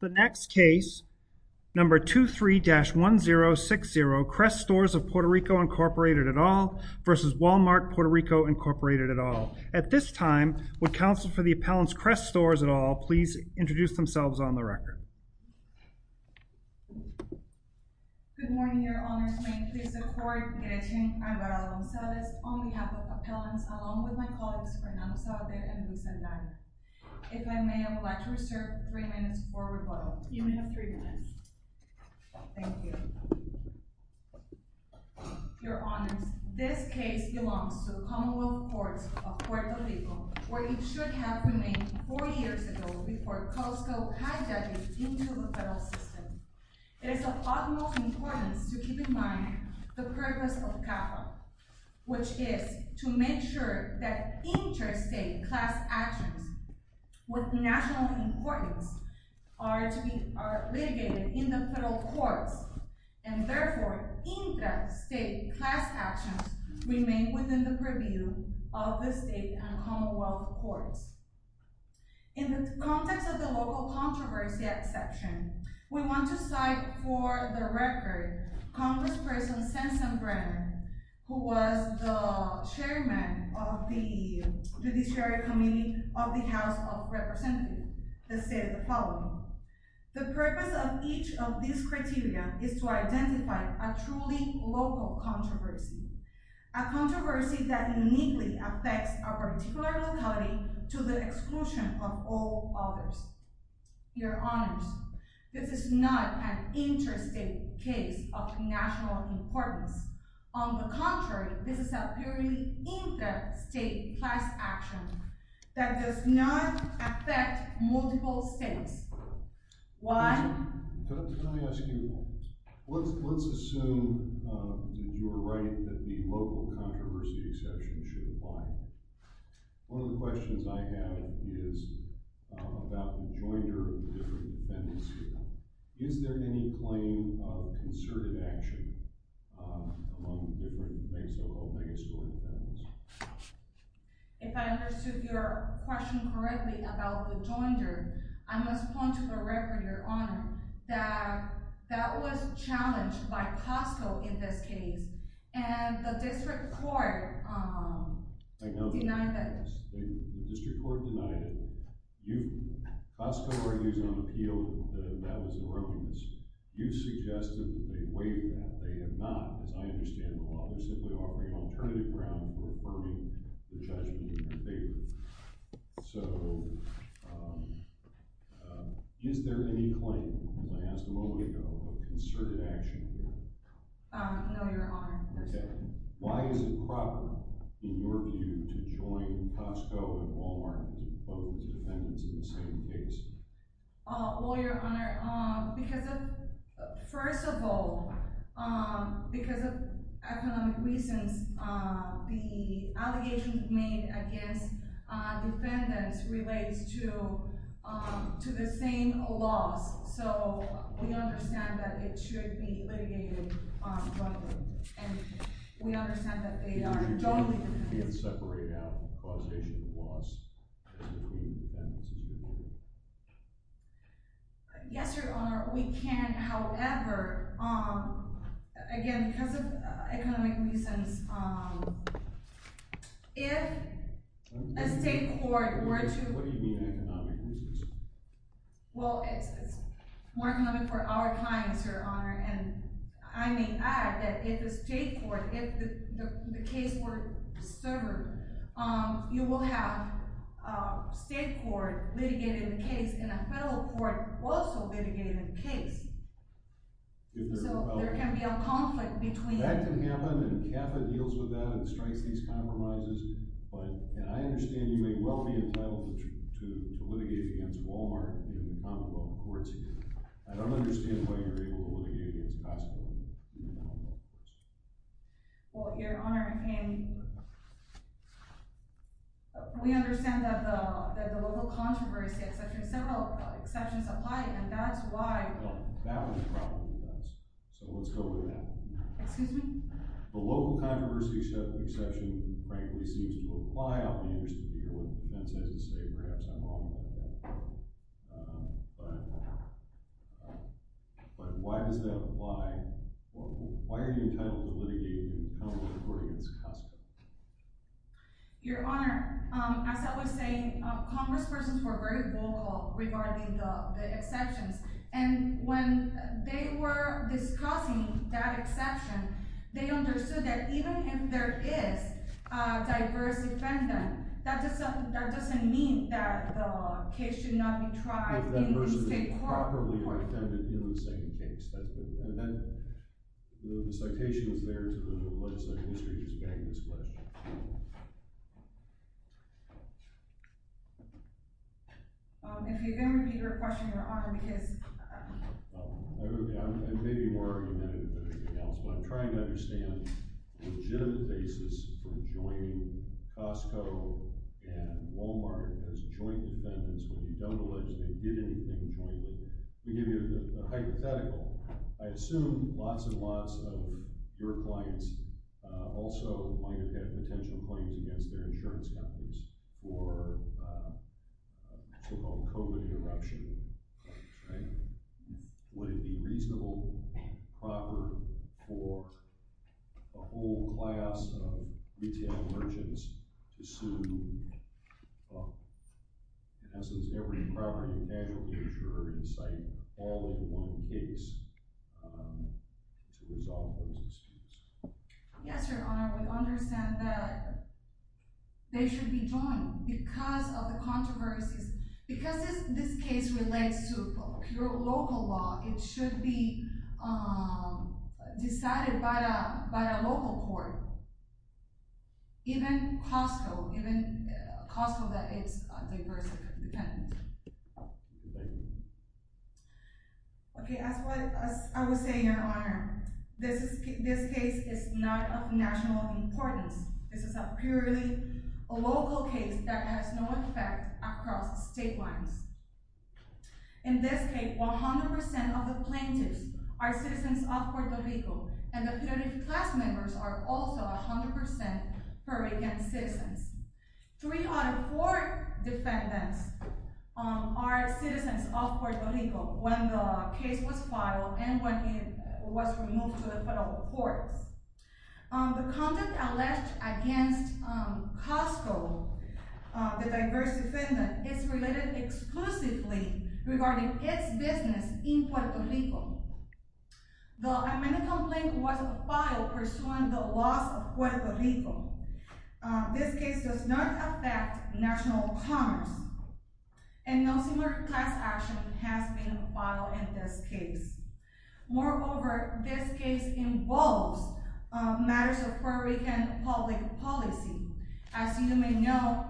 The next case, number 23-1060, Kress Stores of Puerto Rico, Inc. et al. v. Wal-Mart Puerto Rico, Inc. et al. At this time, would counsel for the appellants Kress Stores et al. please introduce themselves on the record. Good morning, Your Honors. May it please the Court that I attend on behalf of appellants along with my colleagues Fernanda Saavedra and Luis Andrade. If I may, I would like to reserve three minutes for rebuttal. You may have three minutes. Thank you. Your Honors, this case belongs to the Commonwealth Courts of Puerto Rico, where it should have remained 40 years ago before Costco hijacked it into the federal system. It is of utmost importance to keep in mind the purpose of CAFA, which is to make sure that interstate class actions with national importance are to be are litigated in the federal courts and therefore interstate class actions remain within the purview of the state and Commonwealth Courts. In the context of the local controversy exception, we want to cite for the record Congressperson Sanson Brenner, who was the chairman of the Judiciary Committee of the House of Representatives that stated the following. The purpose of each of these criteria is to identify a truly local controversy, a controversy that uniquely affects a particular locality to the exclusion of all others. Your Honors, this is not an interstate case of national importance. On the contrary, this is a purely interstate class action that does not affect multiple states. Why? Let me ask you this. Let's assume that you are right that the local controversy exception should apply. One of the questions I have is about the joinder of the different defendants. Is there any claim of concerted action among the different so-called megastore defendants? If I understood your question correctly about the joinder, I must point to the record, Your Honor, that that was challenged by Costco in this case and the district court denied that. The district court denied it. Costco argues on appeal that that was an erroneous. You suggested that they waived that. They have not, as I understand the law. They're simply offering alternative grounds for affirming the judgment in their favor. So, is there any claim, as I asked a moment ago, of concerted action? No, Your Honor. Why is it proper, in your view, to join Costco and Walmart to oppose defendants in the same case? Well, Your Honor, because of, first of all, because of economic reasons, the allegations made against defendants relates to the same laws. So, we understand that it should be litigated jointly, and we understand that they are jointly defendants. Do you think you can separate out causation of loss and the claim of defendants as a whole? Yes, Your Honor, we can. However, again, because of economic reasons, if a state court were to— What do you mean, economic reasons? Well, it's more economic for our kind, Your Honor, and I may add that if the state court, if the case were severed, you will have a state court litigating the case and a federal court also litigating the case. So, there can be a conflict between— Act in Havana and CAFA deals with that and strikes these compromises, but—and I understand you may well be entitled to litigate against Walmart in the commonwealth courts here. I don't understand why you're able to litigate against Costco in the commonwealth courts. Well, Your Honor, and we understand that the local controversy exception, several exceptions apply, and that's why— Well, that was a problem with us, so let's go with that. Excuse me? The local controversy exception, frankly, seems to apply out of the interest of the hearing, and that's as to say perhaps I'm wrong about that, but why does that apply? Why are you entitled to litigate in the commonwealth court against Costco? Your Honor, as I was saying, congresspersons were very vocal regarding the exceptions, and when they were discussing that exception, they understood that even if there is a diverse defendant, that doesn't mean that the case should not be tried in state court. If that person is properly unattended in the second case, that's good. And then, the citation is there to the legislative history as being this question. Well, if you're going to repeat your question, Your Honor, because— I may be more argumentative than anything else, but I'm trying to understand the legitimate basis for joining Costco and Walmart as joint defendants when you don't allegedly did anything jointly. To give you a hypothetical, I assume lots and lots of your clients also might have potential claims against their insurance companies for a so-called COVID interruption, right? Would it be reasonable, proper for a whole class of retail merchants to sue in essence every property and casualty insurer in sight all in one case to resolve those issues? Yes, Your Honor, we understand that they should be joined because of the controversies. Because this case relates to your local law, it should be decided by a local court, even Costco, even Costco that it's a diverse defendant. Thank you. Okay, as I was saying, Your Honor, this case is not of national importance. This is a purely local case that has no effect across state lines. In this case, 100% of the plaintiffs are citizens of Puerto Rico, and the penalty class members are also 100% against citizens. Three out of four defendants are citizens of Puerto Rico when the case was filed and when it was removed to the federal courts. The content alleged against Costco, the diverse defendant, is related exclusively regarding its business in Puerto Rico. The amendment complaint was filed pursuing the loss of Puerto Rico. This case does not affect national commerce, and no similar class action has been filed in this case. Moreover, this case involves matters of public policy. As you may know,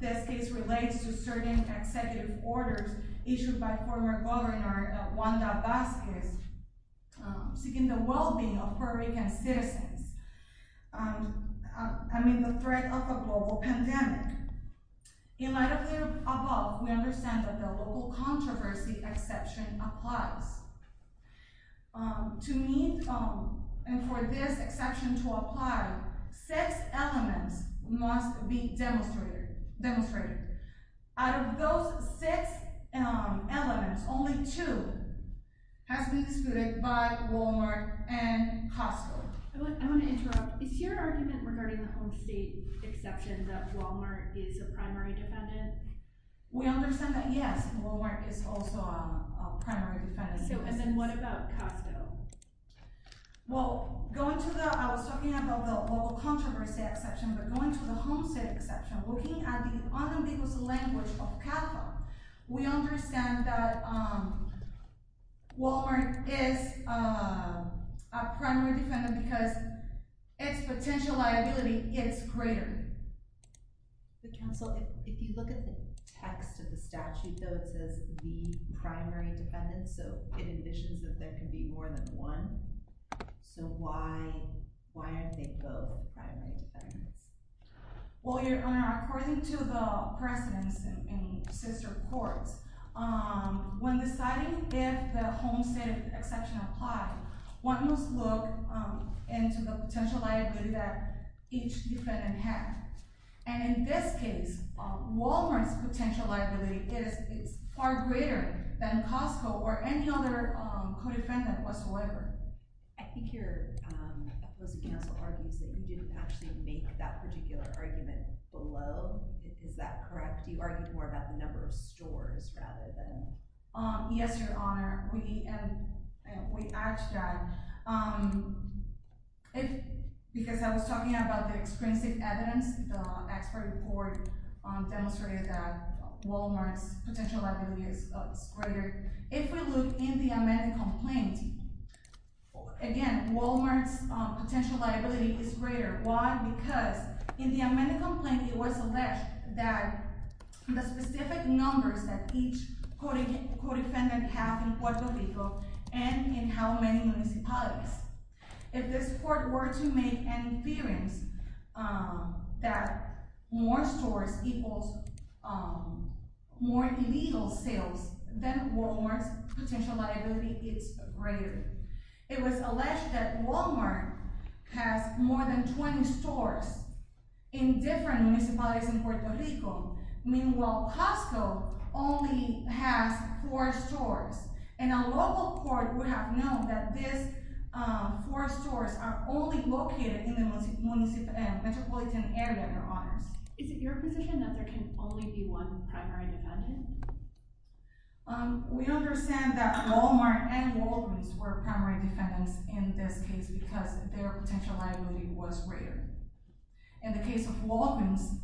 this case relates to certain executive orders issued by former Governor Wanda Vasquez seeking the well-being of Puerto Rican citizens. I mean, the threat of a global pandemic. In light of the above, we understand that the local controversy exception applies. To me, and for this exception to apply, six elements must be demonstrated. Out of those six elements, only two has been disputed by Walmart and Costco. I want to interrupt. Is your argument regarding the home state exception that Walmart is a primary defendant? We understand that, yes, Walmart is also a primary defendant. So, and then what about Costco? Well, going to the, I was talking about the local controversy exception, but going to the language of CAFA, we understand that Walmart is a primary defendant because its potential liability is greater. So, if you look at the text of the statute, though, it says the primary defendant, so it envisions that there can be more than one. So, why aren't they both primary defendants? Well, Your Honor, according to the precedents in the sister courts, when deciding if the home state exception applies, one must look into the potential liability that each defendant had. And in this case, Walmart's potential liability is far greater than Costco or any other defendant whatsoever. I think your closing counsel argues that you didn't actually make that particular argument below. Is that correct? Do you argue more about the number of stores rather than? Yes, Your Honor. We add to that. Because I was talking about the expressive evidence, the expert report demonstrated that Walmart's potential liability is greater. If we look in the amended complaint, again, Walmart's potential liability is greater. Why? Because in the amended complaint, it was alleged that the specific numbers that each co-defendant have in Puerto Rico and in how many municipalities. If this court were to make an inference that more stores equals more illegal sales, then Walmart's potential liability is greater. It was alleged that Walmart has more than 20 stores in different municipalities in Puerto Rico. Meanwhile, Costco only has four stores. And a local court would have known that these four stores are only located in the metropolitan area, Your Honors. Is it your position that there can only be one primary defendant? We understand that Walmart and Walgreens were primary defendants in this case because their potential liability was greater. In the case of Walgreens,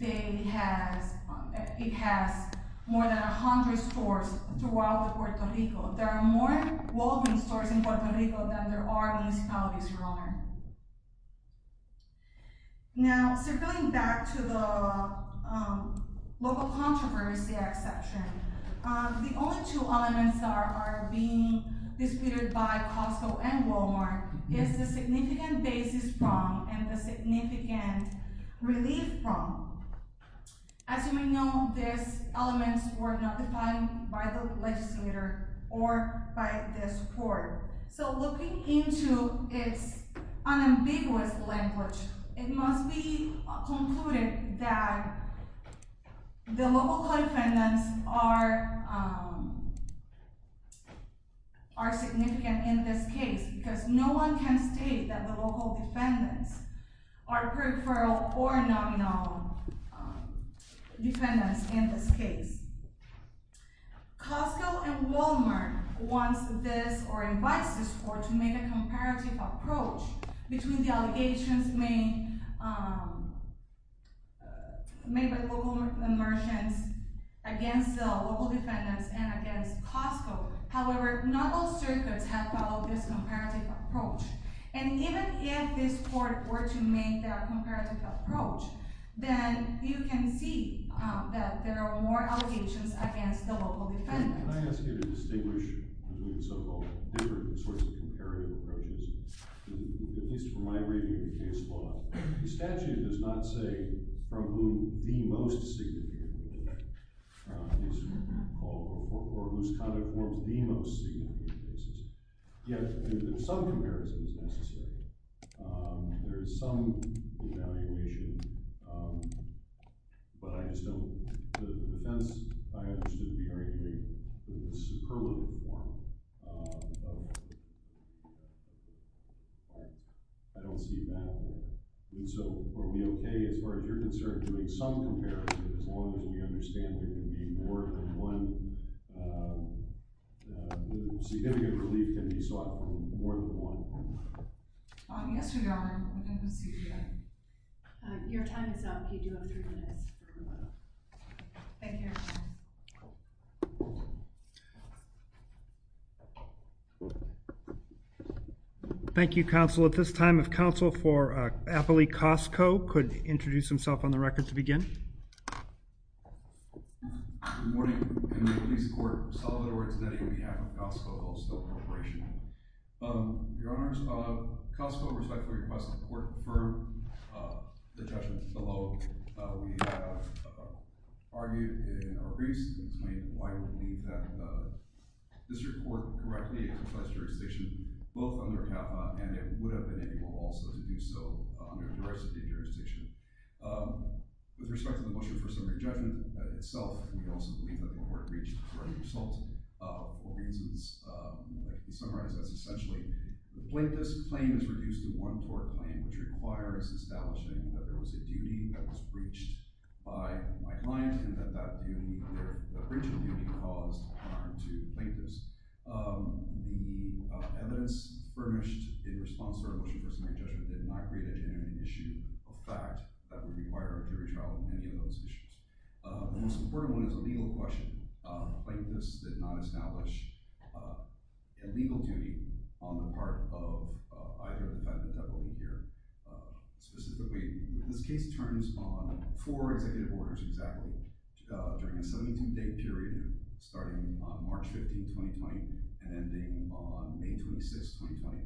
it has more than 100 stores throughout Puerto Rico. There are more Walgreens stores in Puerto Rico than there are municipalities, Your Honor. Now, circling back to the local controversy exception, the only two elements that are being disputed by Costco and Walmart is the significant basis problem and the significant relief problem. As you may know, these elements were not defined by the legislator or by this court. So looking into its unambiguous language, it must be concluded that the local co-defendants are significant in this case because no one can state that the local defendants are peripheral or nominal defendants in this case. Costco and Walmart wants this or invites this court to make a comparative approach between the allegations made made by local merchants against the local defendants and against Costco. However, not all If this court were to make a comparative approach, then you can see that there are more allegations against the local defendants. Can I ask you to distinguish between so-called different sorts of comparative approaches? At least from my reading of the case law, the statute does not say from whom the most significant is called or whose conduct forms the most significant basis. Yet, there are some comparisons necessary. There is some evaluation, but I just don't, the defense I understood apparently in a superlative form. I don't see that. And so, are we okay as far as you're concerned doing some comparison as long as you understand there can be more than one? The significant relief can be sought from more than one. Yes, Your Honor, within the CBI. Your time is up. You do have three minutes. Thank you, Your Honor. Thank you, counsel. At this time if counsel for Appley Costco could introduce himself on the record to begin. Good morning. I'm in the police court. I'm Sullivan Ortonetti on behalf of Costco Wholesale Corporation. Your Honor, Costco, with respect to the request of the court to confirm the judgment below, we have argued in our briefs why we believe that the district court correctly confessed jurisdiction both under HAPA and it would have been able also to do so in a jurisdiction. With respect to the motion for summary judgment itself, we also believe that the court reached correct results. For instance, to summarize, that's essentially the plaintiff's claim is reduced to one court claim, which requires establishing that there was a duty that was breached by my client and that the breach of duty caused harm to the plaintiffs. The evidence furnished in response to our motion for summary judgment did not create a genuine issue of fact that would require a legal question. The plaintiffs did not establish a legal duty on the part of either the defendant that will be here specifically. This case turns on four executive orders exactly during a 17-day period starting on March 15, 2020 and ending on May 26, 2020.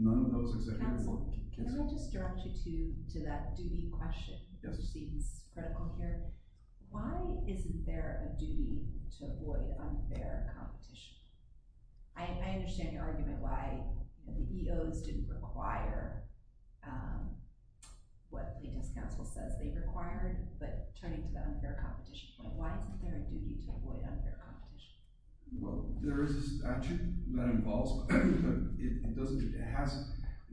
None of those executive orders were canceled. Can I just direct you to that duty question? Why isn't there a duty to avoid unfair competition? I understand your argument why the EOs didn't require what the plaintiff's counsel says they required, but turning to the unfair competition point, why isn't there a duty to avoid unfair competition? Well, there is a statute that involves, but it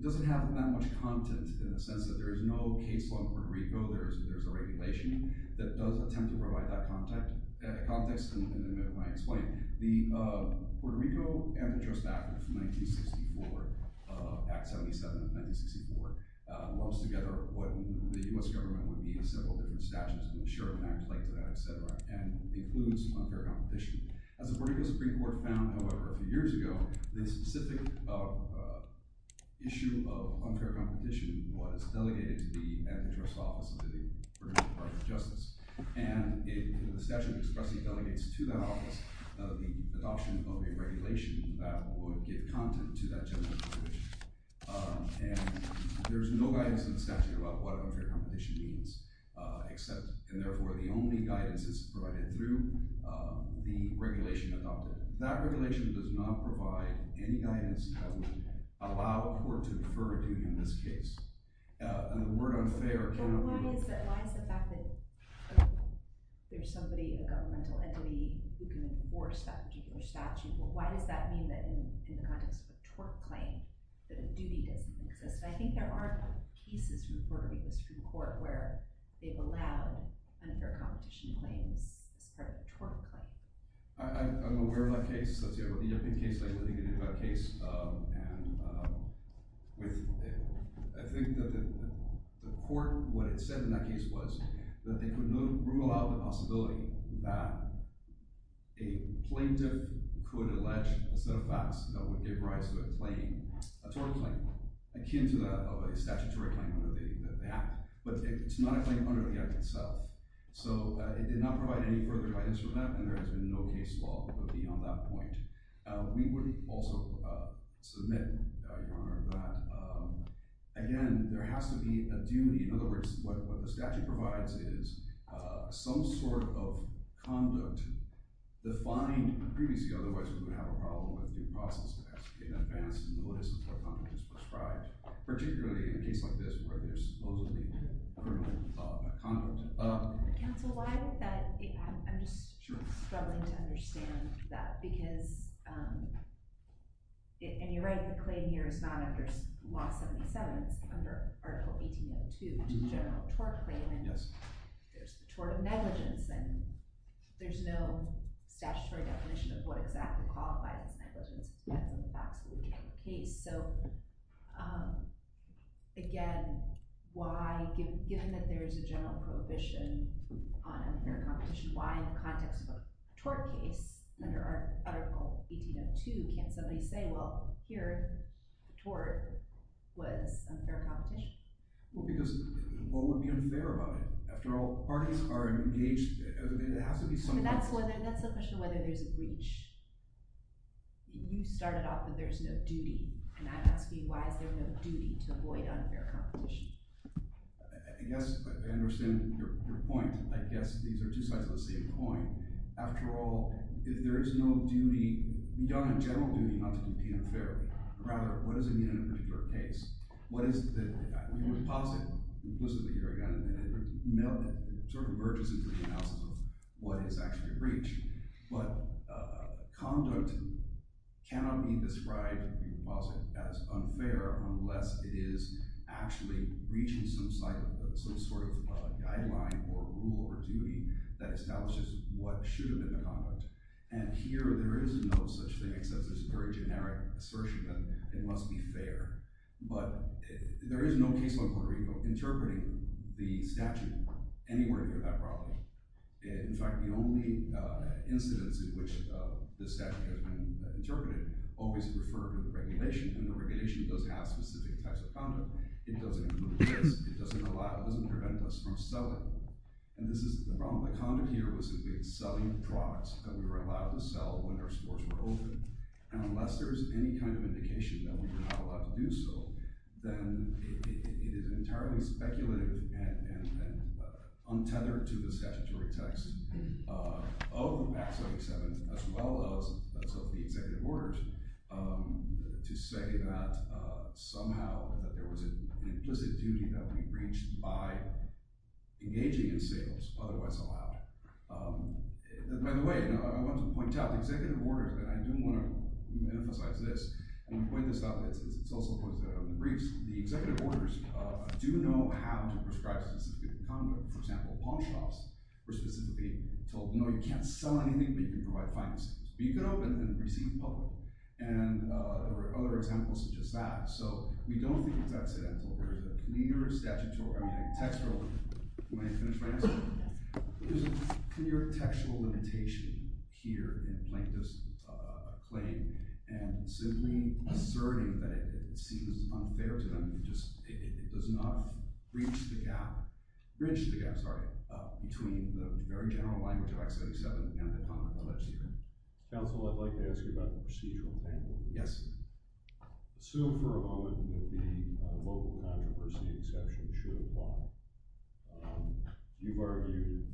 doesn't have that much content in the sense that there is no case law in Puerto Rico. There's a regulation that does attempt to provide that context in the middle of my explaining. The Puerto Rico Ambitious Act of 1964, Act 77 of 1964, lumps together what the U.S. government would need in several different statutes and the share of an act and includes unfair competition. As the Puerto Rico Supreme Court found, however, a few years ago, the specific issue of unfair competition was delegated to the Ambitious Office of the Puerto Rican Department of Justice and in the statute expressing delegates to that office of the adoption of a regulation that would give content to that general jurisdiction. And there's no guidance in the statute about what unfair competition means except, and therefore, the only guidance is provided through the regulation adopted. That regulation does not provide any guidance that would allow a court to defer a duty in this case. And the word unfair cannot be... But why is it, why is the fact that there's somebody, a governmental entity who can enforce that particular statute, but why does that mean that in the context of a tort claim that a duty doesn't exist? I think there are cases in the Puerto Rico Supreme Court where they've allowed unfair competition claims as part of a tort claim. I'm aware of that case, that's the only case I really can think of that case. And with it, I think that the court, what it said in that case was that they could rule out the possibility that a plaintiff could allege a set of facts that would give rise to a claim, a tort claim, akin to that of a statutory claim under the Act. But it's not a claim under the Act itself. So it did not provide any further guidance for that, and there has been no case law beyond that point. We would also submit, Your Honor, that, again, there has to be a duty. In other words, what the statute provides is some sort of conduct defined previously, otherwise we would have a problem with the process that has to be in advance and the way some of that conduct is prescribed, particularly in a case like this where there's supposedly criminal conduct. Counsel, why would that, I'm just struggling to understand that, because, and you're right, the claim here is not under Law 77, it's under Article 18.02, it's a general tort claim, and there's the tort of negligence, and there's no statutory definition of what exactly qualifies as negligence in the facts of the case. So, again, why, given that there's a general prohibition on unfair competition, why in the context of a tort case, under Article 18.02, can't somebody say, well, here, the tort was unfair competition? Well, because what would be unfair about it? After all, parties are engaged, and it has to be some way— But that's the question of whether there's a breach. You started off with there's no duty, and I ask you, why is there no duty to avoid unfair competition? I guess I understand your point. I guess these are two sides of the same coin. After all, if there is no duty, you don't have general duty not to compete unfairly. Rather, what does it mean in a particular case? What is the—the deposit, implicitly, here again, it sort of merges into the analysis of what is actually a breach, but conduct cannot be described in the deposit as unfair unless it is actually breaching some sort of guideline or rule or duty that establishes what should have been the conduct. And here, there is no such thing, except there's a very generic assertion that it must be fair. But there is no case law in Puerto Rico interpreting the statute anywhere near that problem. In fact, the only incidence in which the statute has been interpreted always referred to the regulation, and the regulation doesn't have specific types of conduct. It doesn't improve this. It doesn't allow—it doesn't prevent us from selling. And this is—the problem with conduct here was that we were selling products that we were allowed to sell when our stores were open. And unless there is any kind of indication that we were not allowed to do so, then it is entirely speculative and untethered to the statutory text of Act 77, as well as of the executive orders, to say that somehow there was an implicit duty that we breached by engaging in sales otherwise allowed. By the way, I want to point out, the executive orders—and I do want to emphasize this, and point this out, it's also for the briefs—the executive orders do know how to prescribe specific conduct. For example, palm shops were specifically told, no, you can't sell anything, but you can provide financing. You can open and receive public. And there were other examples such as that. So we don't think it's accidental. There is a clear statutory—I mean, a textual—may I finish my answer? There's a clear textual limitation here in Plaintiff's claim, and simply asserting that it seems unfair to them, it just—it does not breach the gap—breach the gap, sorry—between the very general language of Act 77 and the comments of that statement. Counsel, I'd like to ask you about the procedural panel. Yes. I assume for a moment that the local controversy exception should apply. You've argued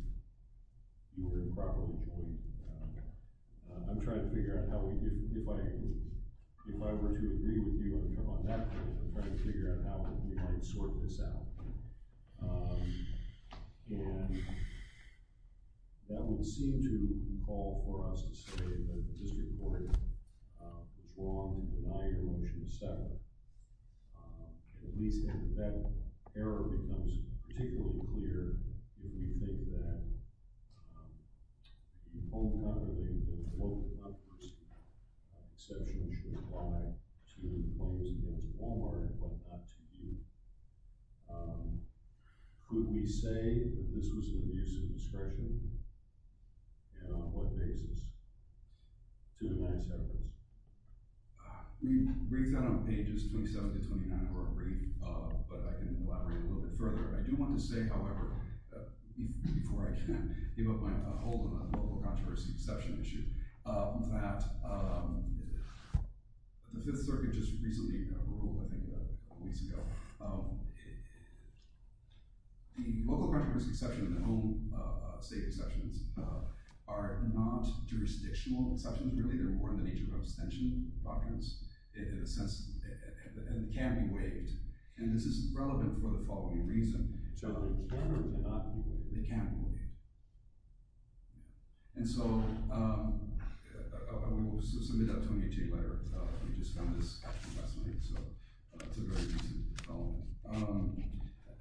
you were in a problem between—I'm trying to figure out how we—if I were to agree with you on that point, I'm trying to figure out how we might sort this out. And that would seem to call for us to say that this report is wrong in denying a motion to settle. But at least if that error becomes particularly clear, if we think that the local controversy exception should apply to employees against Walmart and whatnot to you, could we say that this was an abuse of discretion, and on what basis, to deny settlements? It breaks down on pages 27 to 29 of our brief, but I can elaborate a little bit further. I do want to say, however, before I can give up my hold on the local controversy exception issue, that the Fifth Circuit just recently—I think a couple weeks ago—the local controversy exception and the home state exceptions are not jurisdictional exceptions, really. They're more in the nature of abstention doctrines, in a sense, and can't be waived. And this is relevant for the following reason. They can't be waived. And so I will submit that to a meeting later. We just got this last night, so it's a very recent bill.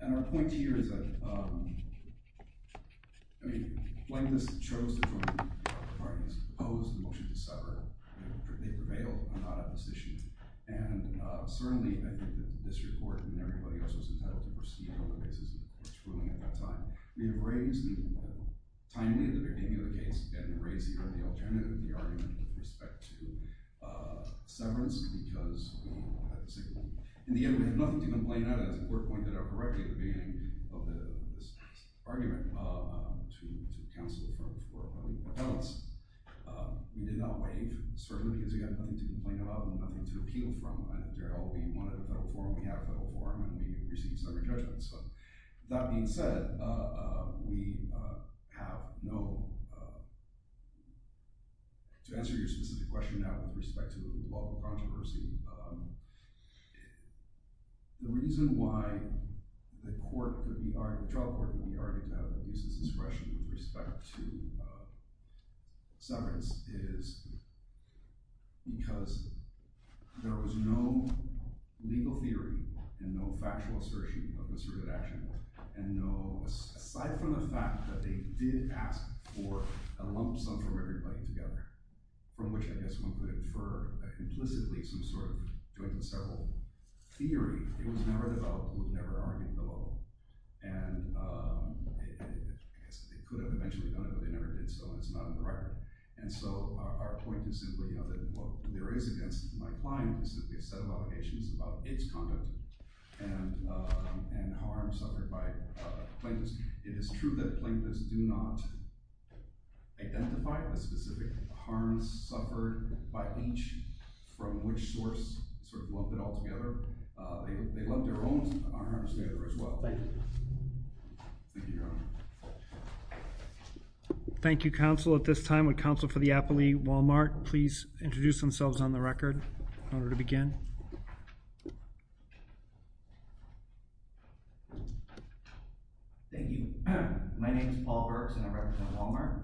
And our point here is that, I mean, when this was proposed, the motion to sever, they prevailed on that opposition. And certainly, I think that this report and everybody else was entitled to proceed on the basis of its ruling at that time. We have raised—timely, in the very name of the case—we have raised here the alternative, the argument with respect to severance, because— In the end, we have nothing to complain about. As the court pointed out correctly at the beginning of this argument to counsel for repellents, we did not waive, certainly, because we have nothing to complain about and nothing to appeal from. We wanted a federal forum. We have a federal forum, and we received severance judgments. That being said, we have no—to answer your specific question now with respect to the lawful controversy, the reason why the court that we argue—the trial court that we argue to have the least discretion with respect to severance is because there was no legal theory and no factual assertion of misdemeanor action. And no—aside from the fact that they did ask for a lump sum from everybody together, from which, I guess, one could infer implicitly some sort of joint and several theory, it was never developed and was never argued below. And it could have eventually done it, but they never did so, and it's not on the record. And so our point is simply, you know, that what there is against my client is simply a set of obligations about its conduct and harm suffered by plaintiffs. It is true that plaintiffs do not identify the specific harms suffered by each from which source sort of lump it all together. They lump their own harms together as well. Thank you, Your Honor. Thank you, counsel. At this time, would counsel for the appellee, Walmart, please introduce themselves on the record in order to begin? Thank you. My name is Paul Burks, and I represent Walmart.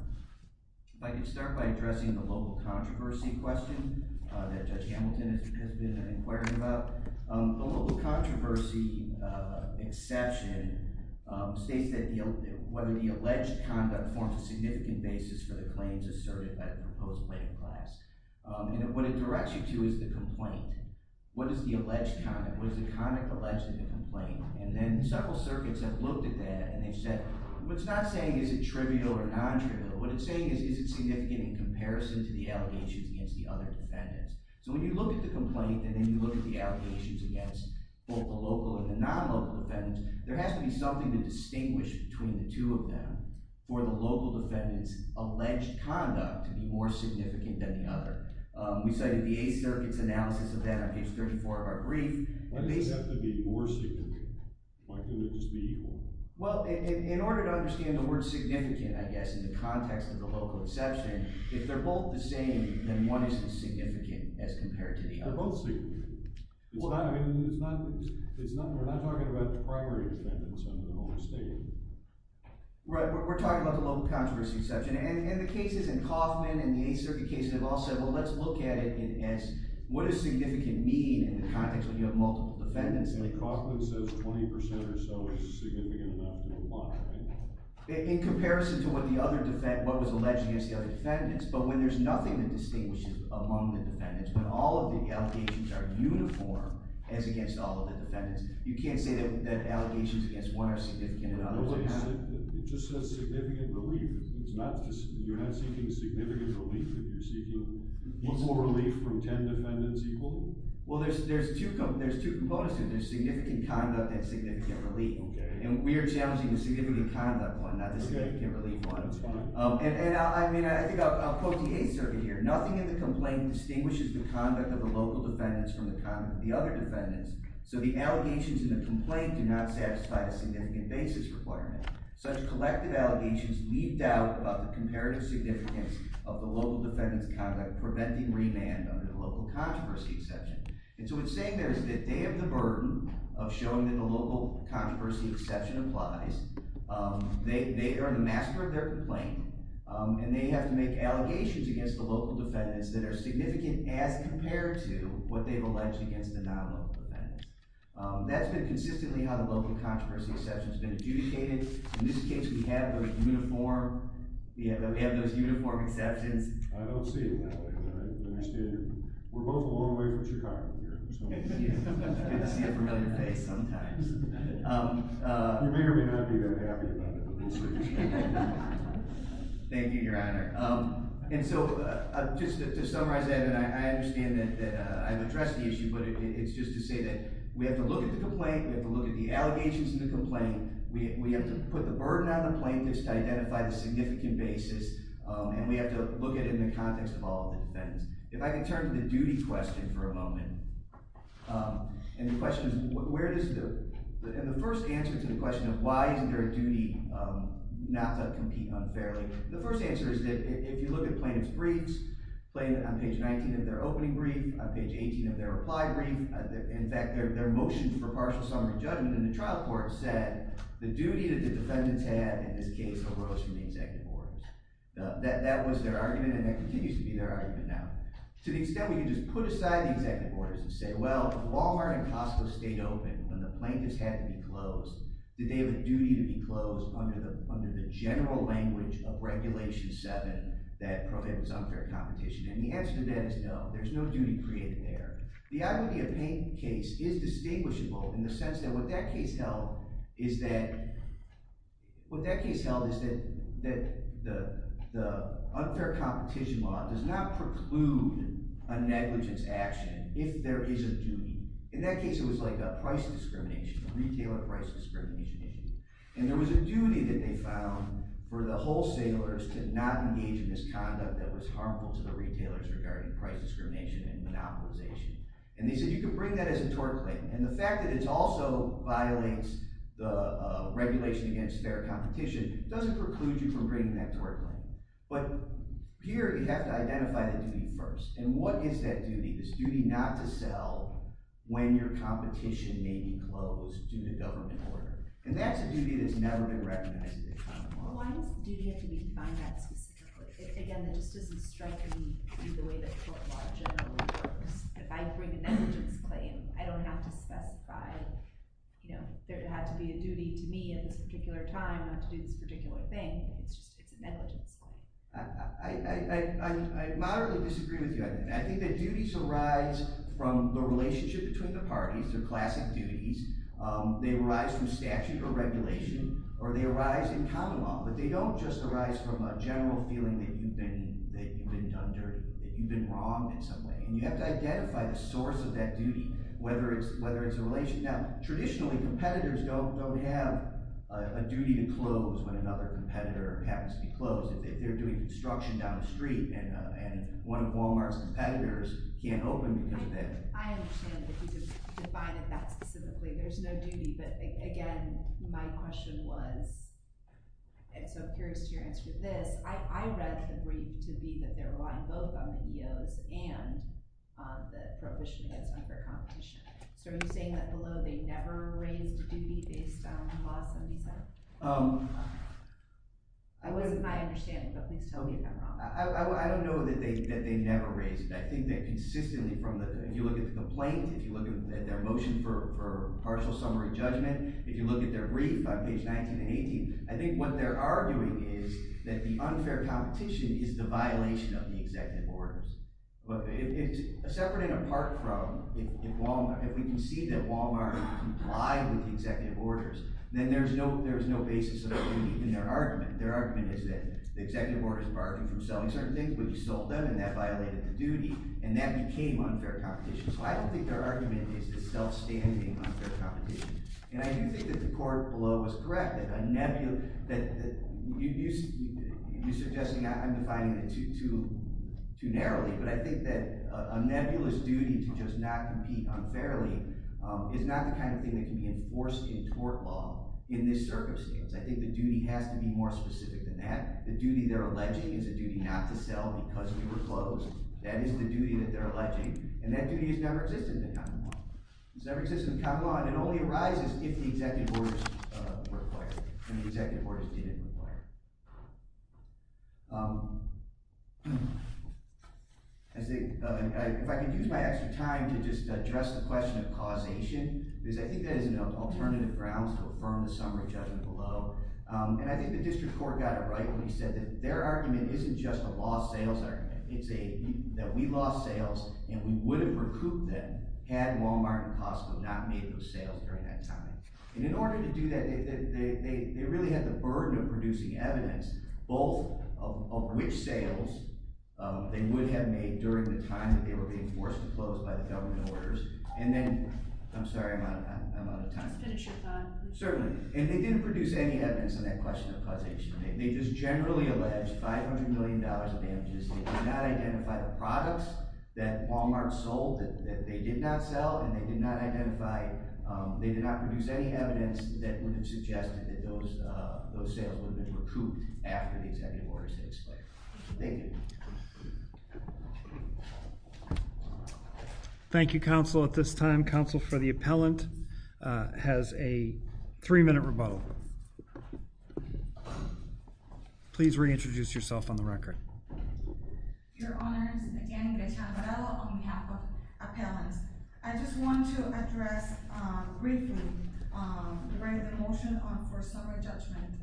If I could start by addressing the local controversy question that Judge Hamilton has been inquiring about. The local controversy exception states that whether the alleged conduct forms a significant basis for the claims asserted by the proposed plaintiff class. And what it directs you to is the complaint. What is the alleged conduct? What is the conduct alleged in the complaint? And then several circuits have looked at that, and they've said, what it's not saying is it trivial or non-trivial. What it's saying is, is it significant in comparison to the allegations against the other defendants? So when you look at the complaint and then you look at the allegations against both the local and the non-local defendants, there has to be something to distinguish between the two of them for the local defendants' alleged conduct to be more significant than the other. We cited the Eighth Circuit's analysis of that on page 34 of our brief. Why does it have to be more significant? Why can't it just be equal? Well, in order to understand the word significant, I guess, in the context of the local exception, if they're both the same, then one isn't significant as compared to the other. They're both significant. It's not – I mean, it's not – it's not – we're not talking about the primary defendants on the home estate. Right. We're talking about the local controversy exception. And the cases in Kaufman and the Eighth Circuit cases have all said, well, let's look at it as what does significant mean in the context when you have multiple defendants. And Kaufman says 20% or so is significant enough to apply, right? In comparison to what the other – what was alleged against the other defendants. But when there's nothing that distinguishes among the defendants, when all of the allegations are uniform as against all of the defendants, you can't say that allegations against one are significant and others are not. It just says significant relief. It's not just – you're not seeking significant relief if you're seeking local relief from 10 defendants equal? Well, there's two components to it. There's significant conduct and significant relief. Okay. And we are challenging the significant conduct one, not the significant relief one. That's fine. And I mean I think I'll quote the Eighth Circuit here. Nothing in the complaint distinguishes the conduct of the local defendants from the conduct of the other defendants, so the allegations in the complaint do not satisfy the significant basis requirement. Such collective allegations leave doubt about the comparative significance of the local defendants' conduct preventing remand under the local controversy exception. And so what it's saying there is that they have the burden of showing that the local controversy exception applies. They are the master of their complaint, and they have to make allegations against the local defendants that are significant as compared to what they've alleged against the non-local defendants. That's been consistently how the local controversy exception has been adjudicated. In this case, we have those uniform – we have those uniform exceptions. I don't see it that way. We're both a long way from Chicago here. It's good to see a familiar face sometimes. You may or may not be that happy about that. Thank you, Your Honor. And so just to summarize that, and I understand that I've addressed the issue, but it's just to say that we have to look at the complaint. We have to look at the allegations in the complaint. We have to put the burden on the plaintiffs to identify the significant basis, and we have to look at it in the context of all the defendants. If I can turn to the duty question for a moment, and the question is where does the – and the first answer to the question of why is there a duty not to compete unfairly, the first answer is that if you look at plaintiff's briefs, on page 19 of their opening brief, on page 18 of their reply brief, in fact, their motion for partial summary judgment in the trial court said the duty that the defendants had in this case arose from the executive orders. That was their argument, and that continues to be their argument now. To the extent we can just put aside the executive orders and say, well, if Walmart and Costco stayed open when the plaintiffs had to be closed, did they have a duty to be closed under the general language of Regulation 7 that prohibits unfair competition? And the answer to that is no. There's no duty created there. The identity of pain case is distinguishable in the sense that what that case held is that the unfair competition law does not preclude a negligence action if there is a duty. In that case, it was like a price discrimination, a retailer price discrimination issue. And there was a duty that they found for the wholesalers to not engage in misconduct that was harmful to the retailers regarding price discrimination and monopolization. And they said you can bring that as a tort claim. And the fact that it also violates the regulation against fair competition doesn't preclude you from bringing that tort claim. But here you have to identify the duty first. And what is that duty, this duty not to sell when your competition may be closed due to government order? And that's a duty that's never been recognized in the economy. Well, why does the duty have to be defined that specifically? Again, that just doesn't strike me the way that tort law generally works. If I bring a negligence claim, I don't have to specify there had to be a duty to me at this particular time not to do this particular thing. It's just a negligence claim. I moderately disagree with you. I think that duties arise from the relationship between the parties. They're classic duties. They arise from statute or regulation, or they arise in common law. But they don't just arise from a general feeling that you've been done dirty, that you've been wrong in some way. And you have to identify the source of that duty, whether it's a relation. Now, traditionally, competitors don't have a duty to close when another competitor happens to be closed. They're doing construction down the street, and one of Walmart's competitors can't open because of that. I understand that you can define it that specifically. There's no duty. But again, my question was – and so I'm curious to your answer to this. I read the brief to be that they're relying both on the EOs and the prohibition against paper competition. So are you saying that below they never raised a duty based on Law 77? I wasn't my understanding, but please tell me if I'm wrong. I don't know that they never raised it. I think that consistently from the – if you look at the plaintiff, if you look at their motion for partial summary judgment, if you look at their brief on page 19 and 18, I think what they're arguing is that the unfair competition is the violation of the executive orders. But if it's separate and apart from – if we can see that Walmart complied with the executive orders, then there's no basis of a duty in their argument. Their argument is that the executive orders barred them from selling certain things, but you sold them, and that violated the duty, and that became unfair competition. So I don't think their argument is the self-standing unfair competition. And I do think that the court below was correct in a nebulous – you're suggesting I'm defining it too narrowly, but I think that a nebulous duty to just not compete unfairly is not the kind of thing that can be enforced in tort law in this circumstance. I think the duty has to be more specific than that. The duty they're alleging is a duty not to sell because you were closed. That is the duty that they're alleging, and that duty has never existed in the Commonwealth. It's never existed in the Commonwealth, and it only arises if the executive orders require it and the executive orders didn't require it. If I could use my extra time to just address the question of causation, because I think that is an alternative grounds to affirm the summary judgment below. And I think the district court got it right when he said that their argument isn't just a lost sales argument. It's a – that we lost sales, and we would have recouped them had Walmart and Costco not made those sales during that time. And in order to do that, they really had the burden of producing evidence, both of which sales they would have made during the time that they were being forced to close by the government orders, and then – I'm sorry, I'm out of time. Just finish your thought. Certainly. And they didn't produce any evidence on that question of causation. They just generally alleged $500 million of damages. They did not identify the products that Walmart sold that they did not sell, and they did not identify – they did not produce any evidence that would have suggested that those sales would have been recouped after the executive orders had expired. Thank you. Thank you, counsel. At this time, counsel for the appellant has a three-minute rebuttal. Please reintroduce yourself on the record. Your Honors, again, Gretchen Morello on behalf of the appellant. I just want to address briefly the motion for summary judgment.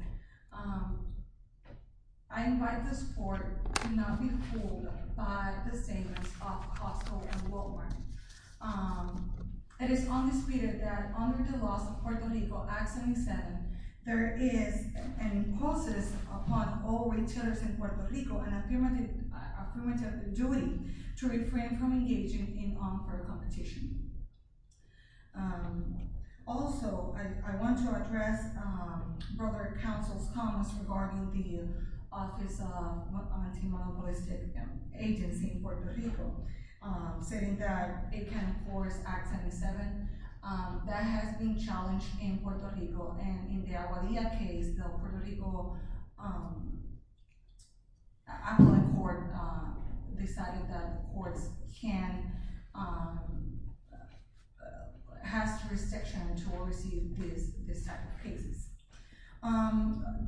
I invite the court to not be fooled by the statements of Costco and Walmart. It is undisputed that under the laws of Puerto Rico, as it is said, there is and imposes upon all retailers in Puerto Rico an affirmative duty to refrain from engaging in unfair competition. Also, I want to address brokered counsel's comments regarding the Office of Anti-Monopolistic Agency in Puerto Rico, saying that it can force Act 77. That has been challenged in Puerto Rico, and in the Aguadilla case, the Puerto Rico appellate court decided that courts can – has jurisdiction to oversee this type of cases.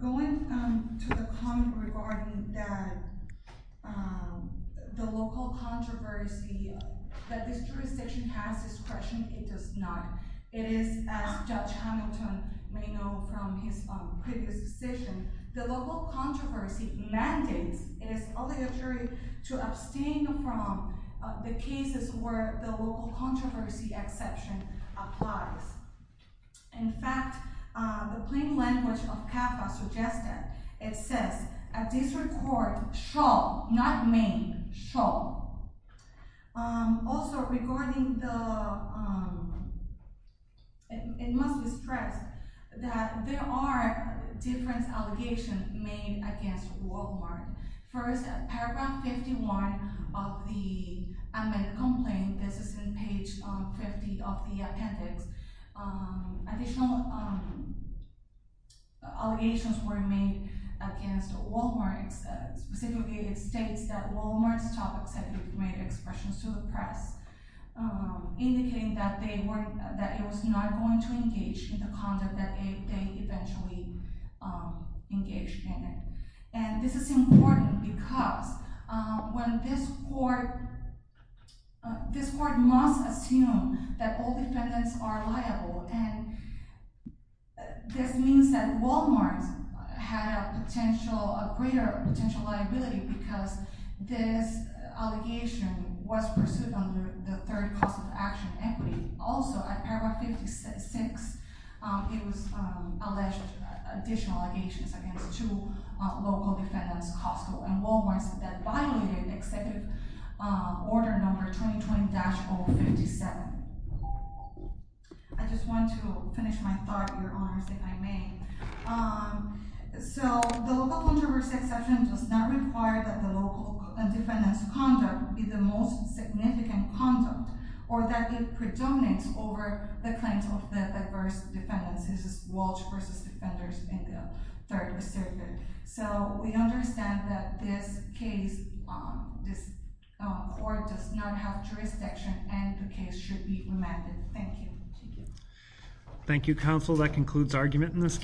Going to the comment regarding the local controversy, that this jurisdiction has discretion. It does not. It is, as Judge Hamilton may know from his previous decision, the local controversy mandates and is obligatory to abstain from the cases where the local controversy exception applies. In fact, the plain language of CAFA suggested, it says, a district court shall, not may, shall. Also, regarding the – it must be stressed that there are different allegations made against Walmart. First, paragraph 51 of the amended complaint, this is in page 50 of the appendix, additional allegations were made against Walmart. Specifically, it states that Walmart's topics have been made expressions to the press, indicating that they were – that it was not going to engage in the conduct that they eventually engaged in. And this is important because when this court – this court must assume that all defendants are liable. And this means that Walmart had a potential – a greater potential liability because this allegation was pursued under the third class of action, equity. Also, at paragraph 56, it was alleged additional allegations against two local defendants, Costco and Walmart, that violated Executive Order number 2020-057. I just want to finish my thought, Your Honors, if I may. So, the local controversy exception does not require that the local defendant's conduct be the most significant conduct or that it predominates over the claims of the diverse defendants. This is Walsh v. Defenders in the Third District. So, we understand that this case – this court does not have jurisdiction and the case should be remanded. Thank you. Thank you. Counsel, that concludes argument in this case.